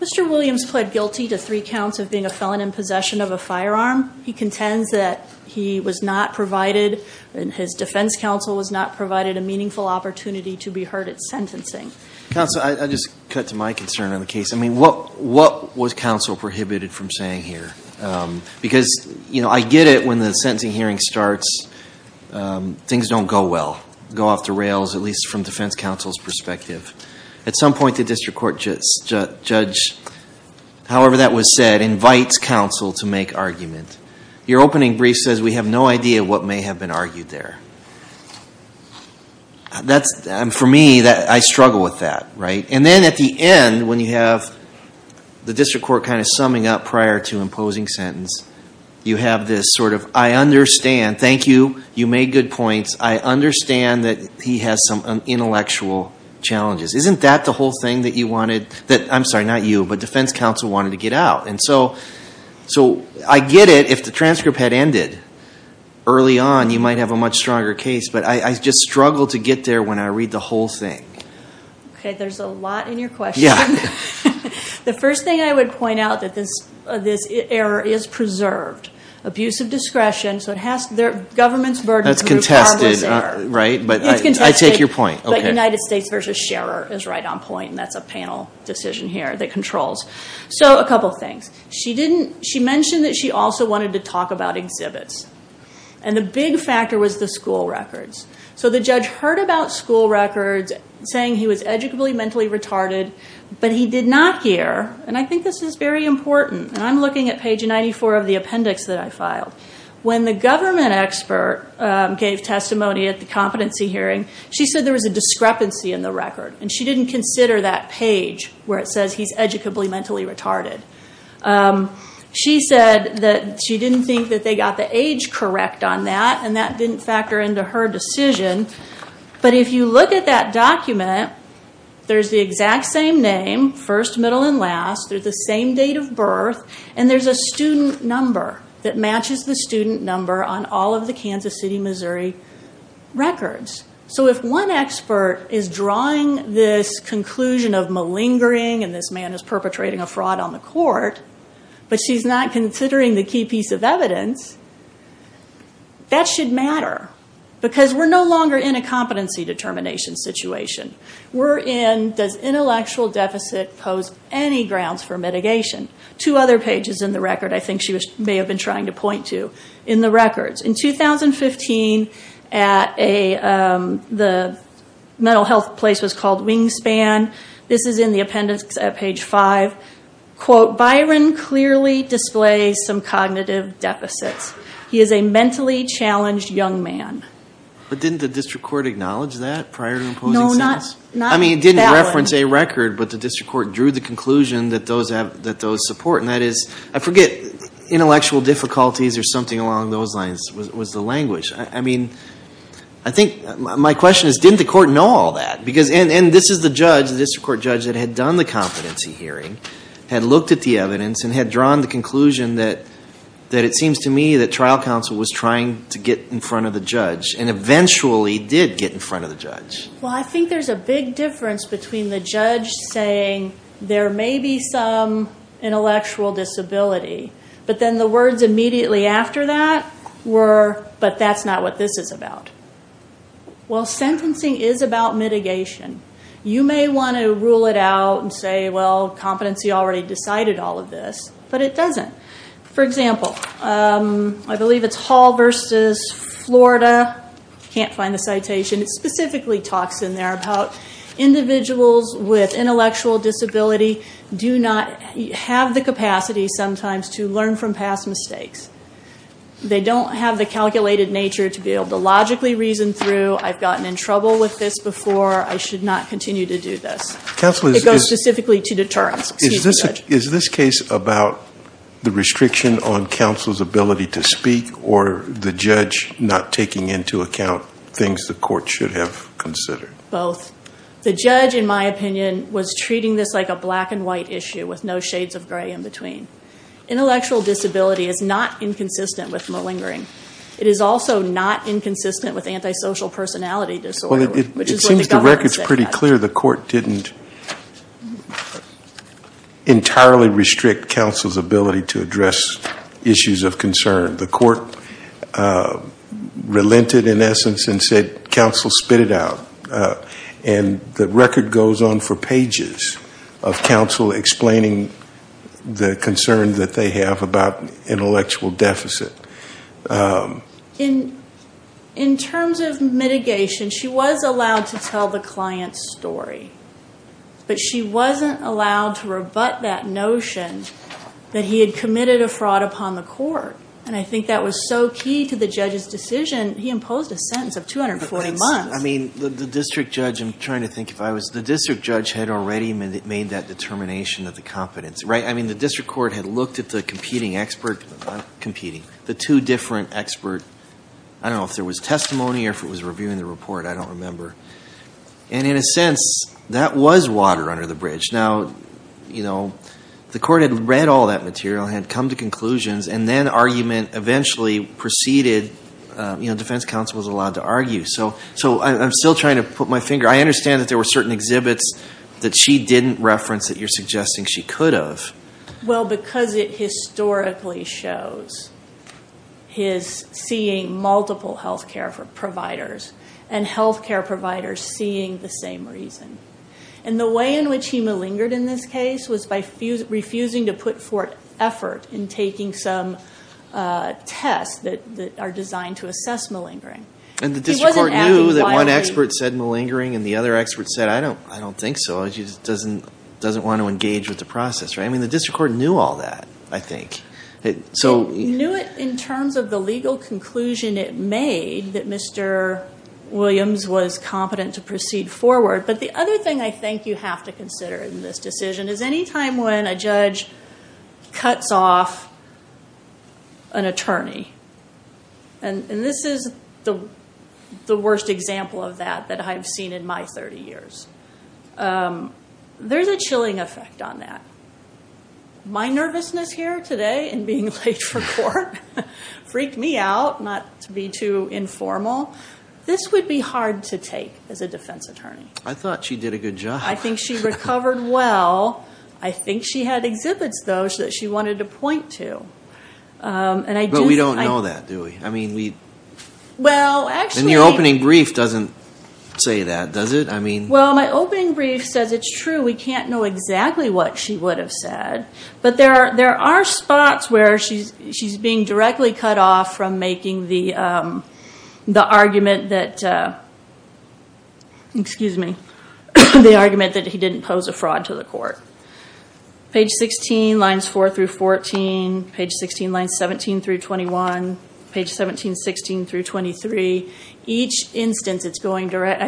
Mr. Williams pled guilty to three counts of being a felon in possession of a firearm. He contends that his defense counsel was not provided a meaningful opportunity to be heard at sentencing. Counsel, I'll just cut to my concern on the case. I mean, what was counsel prohibited from saying here? Because, you know, I get it when the sentencing hearing starts, things don't go well, go off the rails, at least from defense counsel's perspective. At some point the district court judge, however that was said, invites counsel to make argument. Your opening brief says we have no idea what may have been argued there. For me, I struggle with that, right? And then at the end, when you have the district court kind of summing up prior to imposing sentence, you have this sort of, I understand, thank you, you made good points, I understand that he has some intellectual challenges. Isn't that the whole thing that you wanted, I'm sorry, not you, but defense counsel wanted to get out? And so I get it if the transcript had ended early on, you might have a much stronger case, but I just struggle to get there when I read the whole thing. Okay, there's a lot in your question. The first thing I would point out is that this error is preserved. Abuse of discretion, so it has to, the government's burden. That's contested, right, but I take your point. It's contested, but United States v. Scherer is right on point, and that's a panel decision here that controls. So a couple things. She mentioned that she also wanted to talk about exhibits, and the big factor was the school records. So the judge heard about school records saying he was educably mentally retarded, but he did not hear, and I think this is very important, and I'm looking at page 94 of the appendix that I filed. When the government expert gave testimony at the competency hearing, she said there was a discrepancy in the record, and she didn't consider that page where it says he's educably mentally retarded. She said that she didn't think that they got the age correct on that, and that didn't factor into her decision, but if you look at that document, there's the exact same name, first, middle, and last. They're the same date of birth, and there's a student number that matches the student number on all of the Kansas City, Missouri records. So if one expert is drawing this conclusion of malingering, and this man is perpetrating a fraud on the court, but she's not considering the key piece of evidence, that should matter, because we're no longer in a competency determination situation. We're in, does intellectual deficit pose any grounds for mitigation? Two other pages in the record I think she may have been trying to point to in the records. In 2015, the mental health place was called Wingspan. This is in the appendix at page five. Quote, Byron clearly displays some cognitive deficits. He is a mentally challenged young man. But didn't the district court acknowledge that prior to imposing sentence? No, not that one. I mean, it didn't reference a record, but the district court drew the conclusion that those support, and that is, I forget, intellectual difficulties or something along those lines was the language. I think my question is, didn't the court know all that? And this is the judge, the district court judge that had done the competency hearing, had looked at the evidence, and had drawn the conclusion that it seems to me that trial counsel was trying to get in front of the judge, and eventually did get in front of the judge. Well, I think there's a big difference between the judge saying there may be some intellectual disability, but then the words immediately after that were, but that's not what this is about. Well, sentencing is about mitigation. You may want to rule it out and say, well, competency already decided all of this, but it doesn't. For example, I believe it's Hall versus Florida. Can't find the citation. It specifically talks in there about individuals with intellectual disability do not have the capacity sometimes to learn from past mistakes. They don't have the calculated nature to be able to logically reason through, I've gotten in trouble with this before, I should not continue to do this. It goes specifically to deterrence. Is this case about the restriction on counsel's ability to speak or the judge not taking into account things the court should have considered? Both. The judge, in my opinion, was treating this like a black and white issue with no shades of gray in between. Intellectual disability is not inconsistent with malingering. It is also not inconsistent with antisocial personality disorder. Well, it seems the record is pretty clear. The court didn't entirely restrict counsel's ability to address issues of concern. The court relented, in essence, and said, counsel, spit it out. And the record goes on for pages of counsel explaining the concern that they have about intellectual deficit. In terms of mitigation, she was allowed to tell the client's story. But she wasn't allowed to rebut that notion that he had committed a fraud upon the court. And I think that was so key to the judge's decision, he imposed a sentence of 240 months. I mean, the district judge, I'm trying to think if I was, the district judge had already made that determination of the competence. Right? I mean, the district court had looked at the competing expert, not competing, the two different expert, I don't know if there was testimony or if it was reviewing the report. I don't remember. And in a sense, that was water under the bridge. Now, you know, the court had read all that material, had come to conclusions, and then argument eventually preceded, you know, defense counsel was allowed to argue. So I'm still trying to put my finger. I understand that there were certain exhibits that she didn't reference that you're suggesting she could have. Well, because it historically shows his seeing multiple health care providers and health care providers seeing the same reason. And the way in which he malingered in this case was by refusing to put forth effort in taking some tests that are designed to assess malingering. And the district court knew that one expert said malingering and the other expert said, I don't think so. She just doesn't want to engage with the process. Right? I mean, the district court knew all that, I think. It knew it in terms of the legal conclusion it made that Mr. Williams was competent to proceed forward. But the other thing I think you have to consider in this decision is any time when a judge cuts off an attorney. And this is the worst example of that that I've seen in my 30 years. There's a chilling effect on that. My nervousness here today in being late for court freaked me out, not to be too informal. This would be hard to take as a defense attorney. I thought she did a good job. I think she recovered well. I think she had exhibits, though, that she wanted to point to. But we don't know that, do we? And your opening brief doesn't say that, does it? Well, my opening brief says it's true. We can't know exactly what she would have said. But there are spots where she's being directly cut off from making the argument that he didn't pose a fraud to the court. Page 16, lines 4 through 14. Page 16, lines 17 through 21. Page 17, 16 through 23. Each instance, I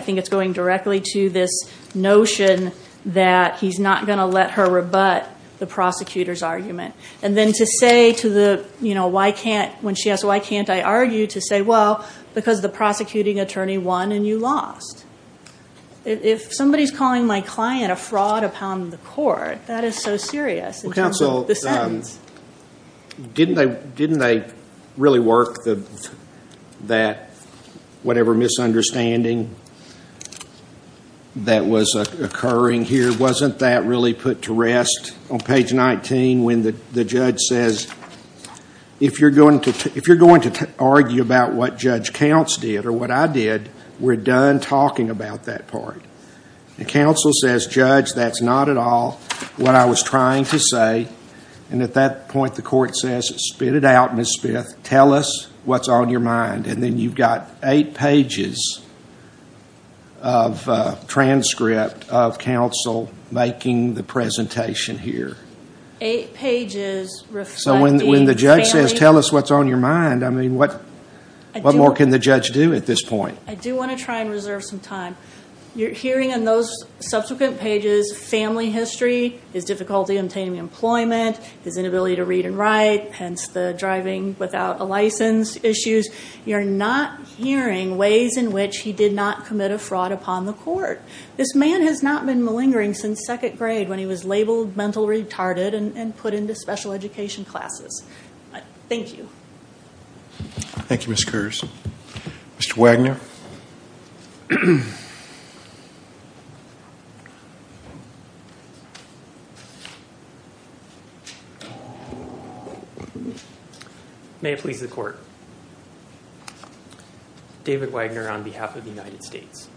think it's going directly to this notion that he's not going to let her rebut the prosecutor's argument. And then to say to the, you know, when she asked, why can't I argue, to say, well, because the prosecuting attorney won and you lost. If somebody's calling my client a fraud upon the court, that is so serious in terms of the sentence. Well, counsel, didn't they really work that whatever misunderstanding that was occurring here, wasn't that really put to rest? When the judge says, if you're going to argue about what Judge Counts did or what I did, we're done talking about that part. And counsel says, Judge, that's not at all what I was trying to say. And at that point, the court says, spit it out, Ms. Smith. Tell us what's on your mind. And then you've got eight pages of transcript of counsel making the presentation here. Eight pages reflecting family. So when the judge says, tell us what's on your mind, I mean, what more can the judge do at this point? I do want to try and reserve some time. You're hearing in those subsequent pages family history, his difficulty obtaining employment, his inability to read and write, hence the driving without a license issues. You're not hearing ways in which he did not commit a fraud upon the court. This man has not been malingering since second grade when he was labeled mental retarded and put into special education classes. Thank you. Thank you, Ms. Kurz. Mr. Wagner. Mr. Wagner. May it please the court. David Wagner on behalf of the United States.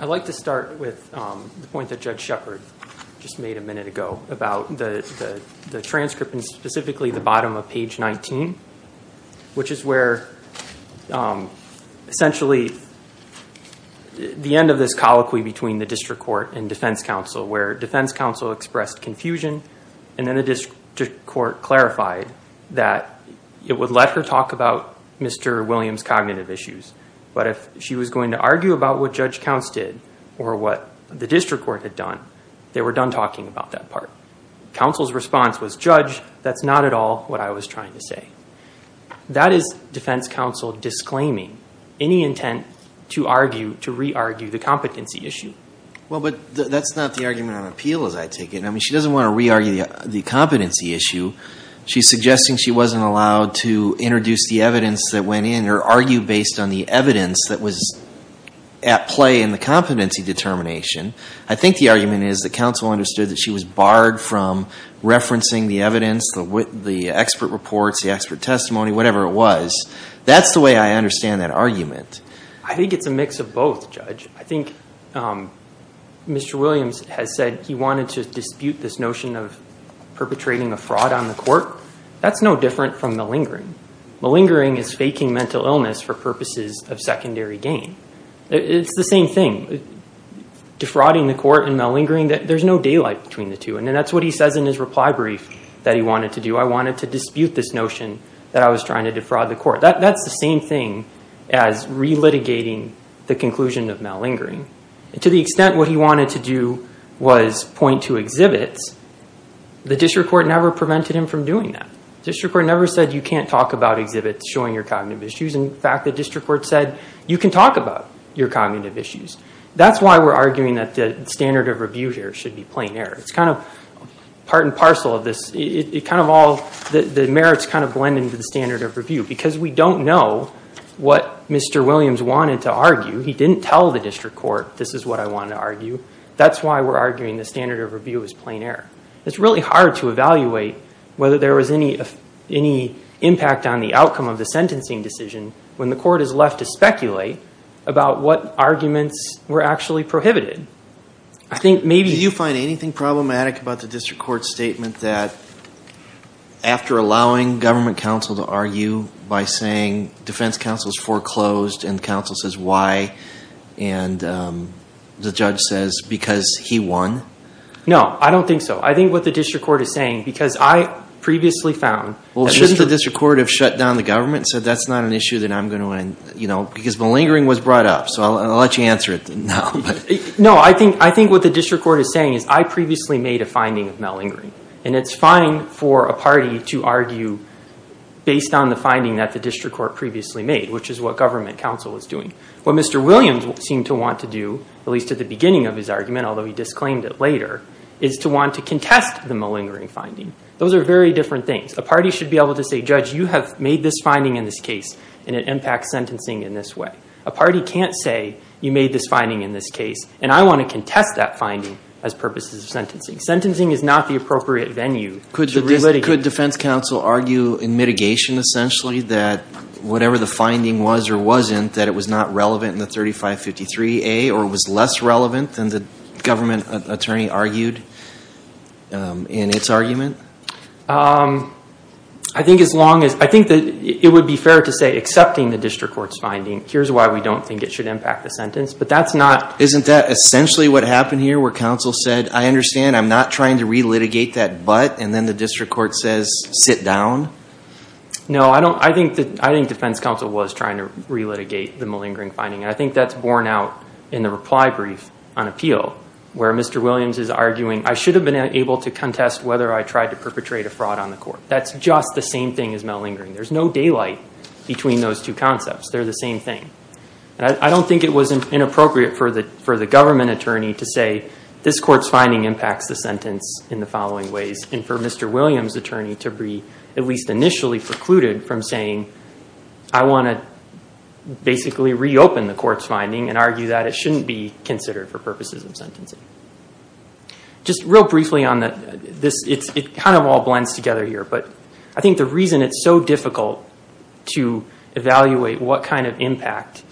I'd like to start with the point that Judge Shepard just made a minute ago about the transcript and specifically the bottom of page 19, which is where essentially the end of this colloquy between the district court and defense counsel, where defense counsel expressed confusion and then the district court clarified that it would let her talk about Mr. Williams' cognitive issues. But if she was going to argue about what Judge Counts did or what the district court had done, they were done talking about that part. Counsel's response was, Judge, that's not at all what I was trying to say. That is defense counsel disclaiming any intent to argue, to re-argue the competency issue. Well, but that's not the argument on appeal as I take it. I mean, she doesn't want to re-argue the competency issue. She's suggesting she wasn't allowed to introduce the evidence that went in or argue based on the evidence that was at play in the competency determination. I think the argument is that counsel understood that she was barred from referencing the evidence, the expert reports, the expert testimony, whatever it was. That's the way I understand that argument. I think it's a mix of both, Judge. I think Mr. Williams has said he wanted to dispute this notion of perpetrating a fraud on the court. That's no different from malingering. Malingering is faking mental illness for purposes of secondary gain. It's the same thing. Defrauding the court and malingering, there's no daylight between the two. And that's what he says in his reply brief that he wanted to do. I wanted to dispute this notion that I was trying to defraud the court. That's the same thing as re-litigating the conclusion of malingering. To the extent what he wanted to do was point to exhibits, the district court never prevented him from doing that. The district court never said you can't talk about exhibits showing your cognitive issues. In fact, the district court said you can talk about your cognitive issues. That's why we're arguing that the standard of review here should be plain error. It's kind of part and parcel of this. The merits kind of blend into the standard of review. Because we don't know what Mr. Williams wanted to argue, he didn't tell the district court this is what I wanted to argue. That's why we're arguing the standard of review is plain error. It's really hard to evaluate whether there was any impact on the outcome of the sentencing decision when the court is left to speculate about what arguments were actually prohibited. Do you find anything problematic about the district court's statement that after allowing government counsel to argue by saying defense counsel is foreclosed and counsel says why, and the judge says because he won? No, I don't think so. I think what the district court is saying, because I previously found... Well, should the district court have shut down the government and said that's not an issue that I'm going to... Because malingering was brought up, so I'll let you answer it now. No, I think what the district court is saying is I previously made a finding of malingering, and it's fine for a party to argue based on the finding that the district court previously made, which is what government counsel was doing. What Mr. Williams seemed to want to do, at least at the beginning of his argument, although he disclaimed it later, is to want to contest the malingering finding. Those are very different things. A party should be able to say, judge, you have made this finding in this case, and it impacts sentencing in this way. A party can't say you made this finding in this case, and I want to contest that finding as purposes of sentencing. Sentencing is not the appropriate venue. Could defense counsel argue in mitigation, essentially, that whatever the finding was or wasn't, that it was not relevant in the 3553A or was less relevant than the government attorney argued in its argument? I think it would be fair to say, accepting the district court's finding, here's why we don't think it should impact the sentence, but that's not. Isn't that essentially what happened here, where counsel said, I understand, I'm not trying to relitigate that, but, and then the district court says, sit down? No, I think defense counsel was trying to relitigate the malingering finding, and I think that's borne out in the reply brief on appeal, where Mr. Williams is arguing, I should have been able to contest whether I tried to perpetrate a fraud on the court. That's just the same thing as malingering. There's no daylight between those two concepts. They're the same thing. I don't think it was inappropriate for the government attorney to say, this court's finding impacts the sentence in the following ways, and for Mr. Williams' attorney to be at least initially precluded from saying, I want to basically reopen the court's finding and argue that it shouldn't be considered for purposes of sentencing. Just real briefly on this, it kind of all blends together here, but I think the reason it's so difficult to evaluate what kind of impact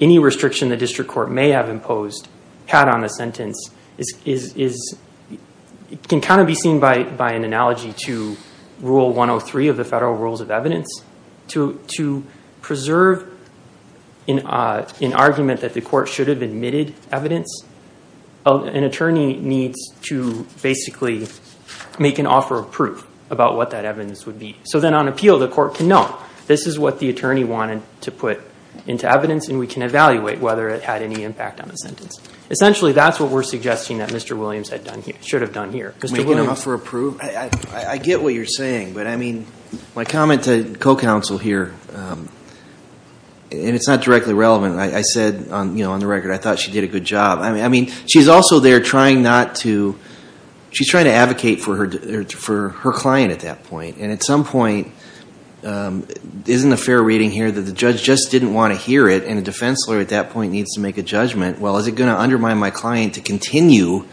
any restriction the district court may have imposed had on the sentence is, it can kind of be seen by an analogy to Rule 103 of the Federal Rules of Evidence. To preserve an argument that the court should have admitted evidence, an attorney needs to basically make an offer of proof about what that evidence would be. So then on appeal, the court can know, this is what the attorney wanted to put into evidence, and we can evaluate whether it had any impact on the sentence. Essentially, that's what we're suggesting that Mr. Williams should have done here. Making an offer of proof? I get what you're saying, but I mean, my comment to co-counsel here, and it's not directly relevant, I said on the record, I thought she did a good job. I mean, she's also there trying not to, she's trying to advocate for her client at that point, and at some point, isn't a fair reading here that the judge just didn't want to hear it, and a defense lawyer at that point needs to make a judgment, well, is it going to undermine my client to continue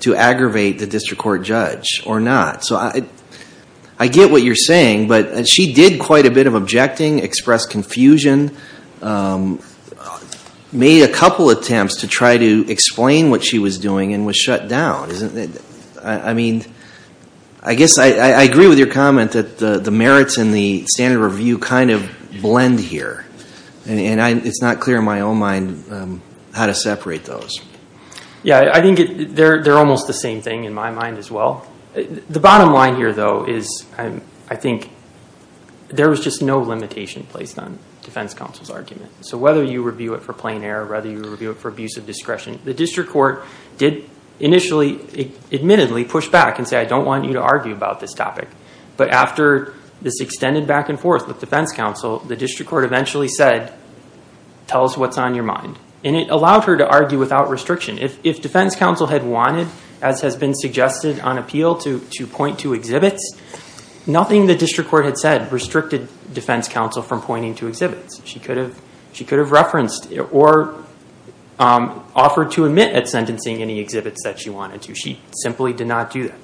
to aggravate the district court judge or not? So I get what you're saying, but she did quite a bit of objecting, expressed confusion, made a couple attempts to try to explain what she was doing, and was shut down. I mean, I guess I agree with your comment that the merits and the standard of review kind of blend here. And it's not clear in my own mind how to separate those. Yeah, I think they're almost the same thing in my mind as well. The bottom line here, though, is I think there was just no limitation placed on defense counsel's argument. So whether you review it for plain error, whether you review it for abuse of discretion, the district court did initially admittedly push back and say, I don't want you to argue about this topic. But after this extended back and forth with defense counsel, the district court eventually said, tell us what's on your mind. And it allowed her to argue without restriction. If defense counsel had wanted, as has been suggested on appeal, to point to exhibits, nothing the district court had said restricted defense counsel from pointing to exhibits. She could have referenced or offered to admit at sentencing any exhibits that she wanted to. She simply did not do that.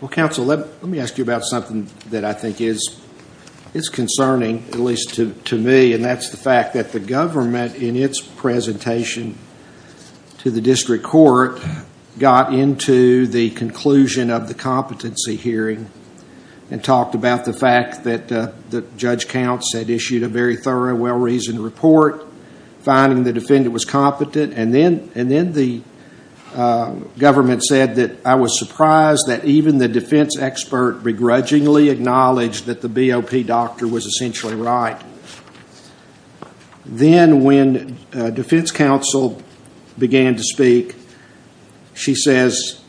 Well, counsel, let me ask you about something that I think is concerning, at least to me, and that's the fact that the government, in its presentation to the district court, got into the conclusion of the competency hearing and talked about the fact that Judge Counts had issued a very thorough, well-reasoned report, finding the defendant was competent. And then the government said that I was surprised that even the defense expert begrudgingly acknowledged that the BOP doctor was essentially right. Then when defense counsel began to speak, she says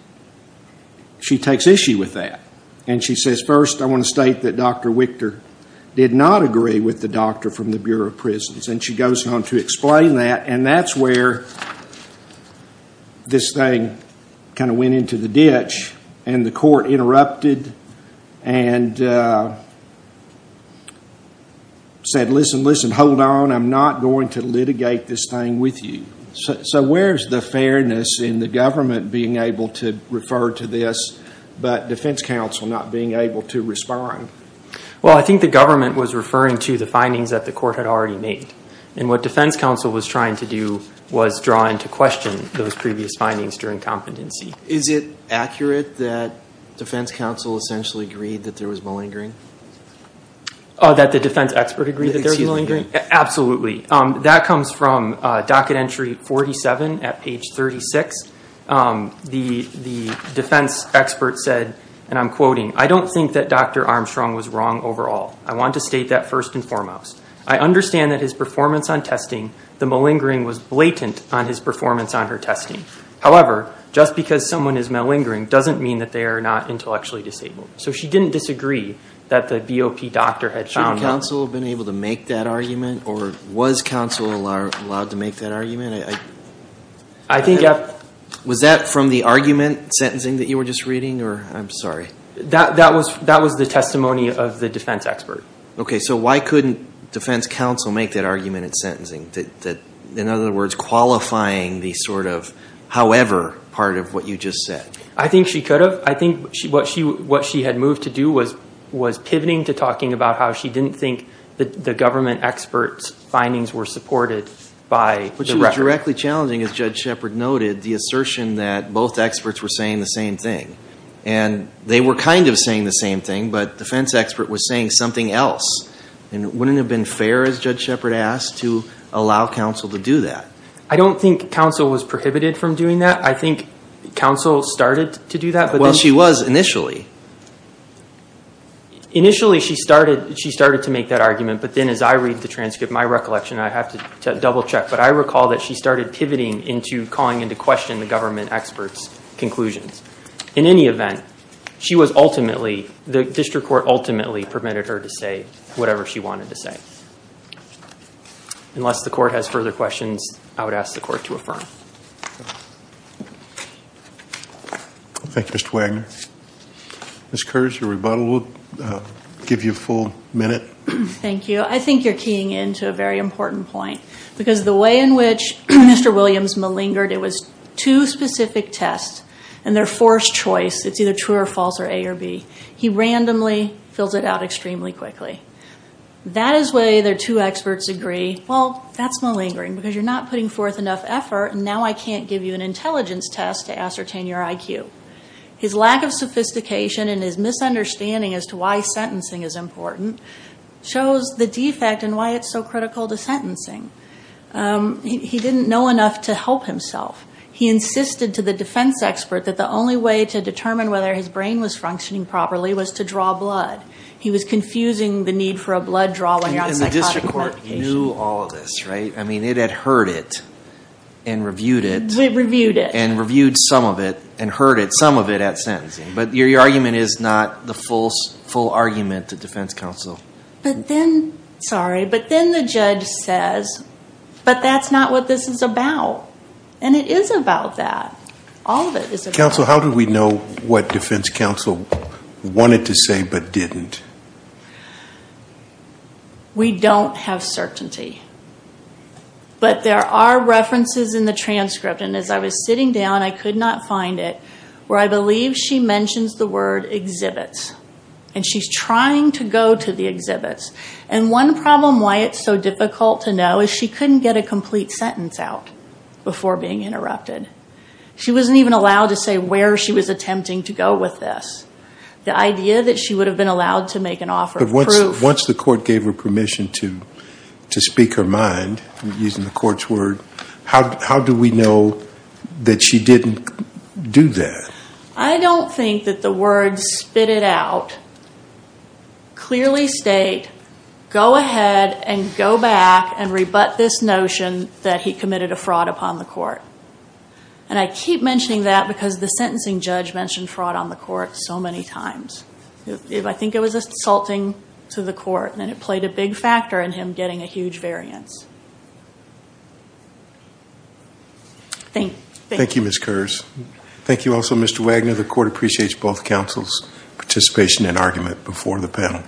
she takes issue with that. And she says, first, I want to state that Dr. Wichter did not agree with the doctor from the Bureau of Prisons. And she goes on to explain that. And that's where this thing kind of went into the ditch. And the court interrupted and said, listen, listen, hold on. I'm not going to litigate this thing with you. So where is the fairness in the government being able to refer to this but defense counsel not being able to respond? Well, I think the government was referring to the findings that the court had already made. And what defense counsel was trying to do was draw into question those previous findings during competency. Is it accurate that defense counsel essentially agreed that there was malingering? That the defense expert agreed that there was malingering? Absolutely. That comes from docket entry 47 at page 36. The defense expert said, and I'm quoting, I don't think that Dr. Armstrong was wrong overall. I want to state that first and foremost. I understand that his performance on testing, the malingering was blatant on his performance on her testing. However, just because someone is malingering doesn't mean that they are not intellectually disabled. So she didn't disagree that the BOP doctor had found malingering. Shouldn't counsel have been able to make that argument? Or was counsel allowed to make that argument? Was that from the argument sentencing that you were just reading? I'm sorry. That was the testimony of the defense expert. Okay. So why couldn't defense counsel make that argument in sentencing? In other words, qualifying the sort of however part of what you just said. I think she could have. I think what she had moved to do was pivoting to talking about how she didn't think the government expert's findings were supported by the record. It was directly challenging, as Judge Shepard noted, the assertion that both experts were saying the same thing. And they were kind of saying the same thing, but defense expert was saying something else. And it wouldn't have been fair, as Judge Shepard asked, to allow counsel to do that. I don't think counsel was prohibited from doing that. I think counsel started to do that. Well, she was initially. Initially, she started to make that argument. But then as I read the transcript, my recollection, I have to double check. But I recall that she started pivoting into calling into question the government expert's conclusions. In any event, she was ultimately, the district court ultimately permitted her to say whatever she wanted to say. Unless the court has further questions, I would ask the court to affirm. Thank you, Mr. Wagner. Ms. Kurz, your rebuttal will give you a full minute. Thank you. I think you're keying into a very important point. Because the way in which Mr. Williams malingered, it was two specific tests and their forced choice. It's either true or false or A or B. He randomly filled it out extremely quickly. That is the way their two experts agree, well, that's malingering because you're not putting forth enough effort, and now I can't give you an intelligence test to ascertain your IQ. His lack of sophistication and his misunderstanding as to why sentencing is important shows the defect and why it's so critical to sentencing. He didn't know enough to help himself. He insisted to the defense expert that the only way to determine whether his brain was functioning properly was to draw blood. He was confusing the need for a blood draw when you're on psychotic medication. And the district court knew all of this, right? I mean, it had heard it and reviewed it. Reviewed it. And heard some of it at sentencing. But your argument is not the full argument to defense counsel. But then, sorry, but then the judge says, but that's not what this is about. And it is about that. All of it is about that. Counsel, how do we know what defense counsel wanted to say but didn't? We don't have certainty. But there are references in the transcript. And as I was sitting down, I could not find it, where I believe she mentions the word exhibits. And she's trying to go to the exhibits. And one problem why it's so difficult to know is she couldn't get a complete sentence out before being interrupted. She wasn't even allowed to say where she was attempting to go with this. The idea that she would have been allowed to make an offer of proof. Once the court gave her permission to speak her mind, using the court's word, how do we know that she didn't do that? I don't think that the words spit it out clearly state, go ahead and go back and rebut this notion that he committed a fraud upon the court. And I keep mentioning that because the sentencing judge mentioned fraud on the court so many times. If I think it was assaulting to the court, then it played a big factor in him getting a huge variance. Thank you. Thank you, Ms. Kurz. Thank you also, Mr. Wagner. The court appreciates both counsel's participation and argument before the panel.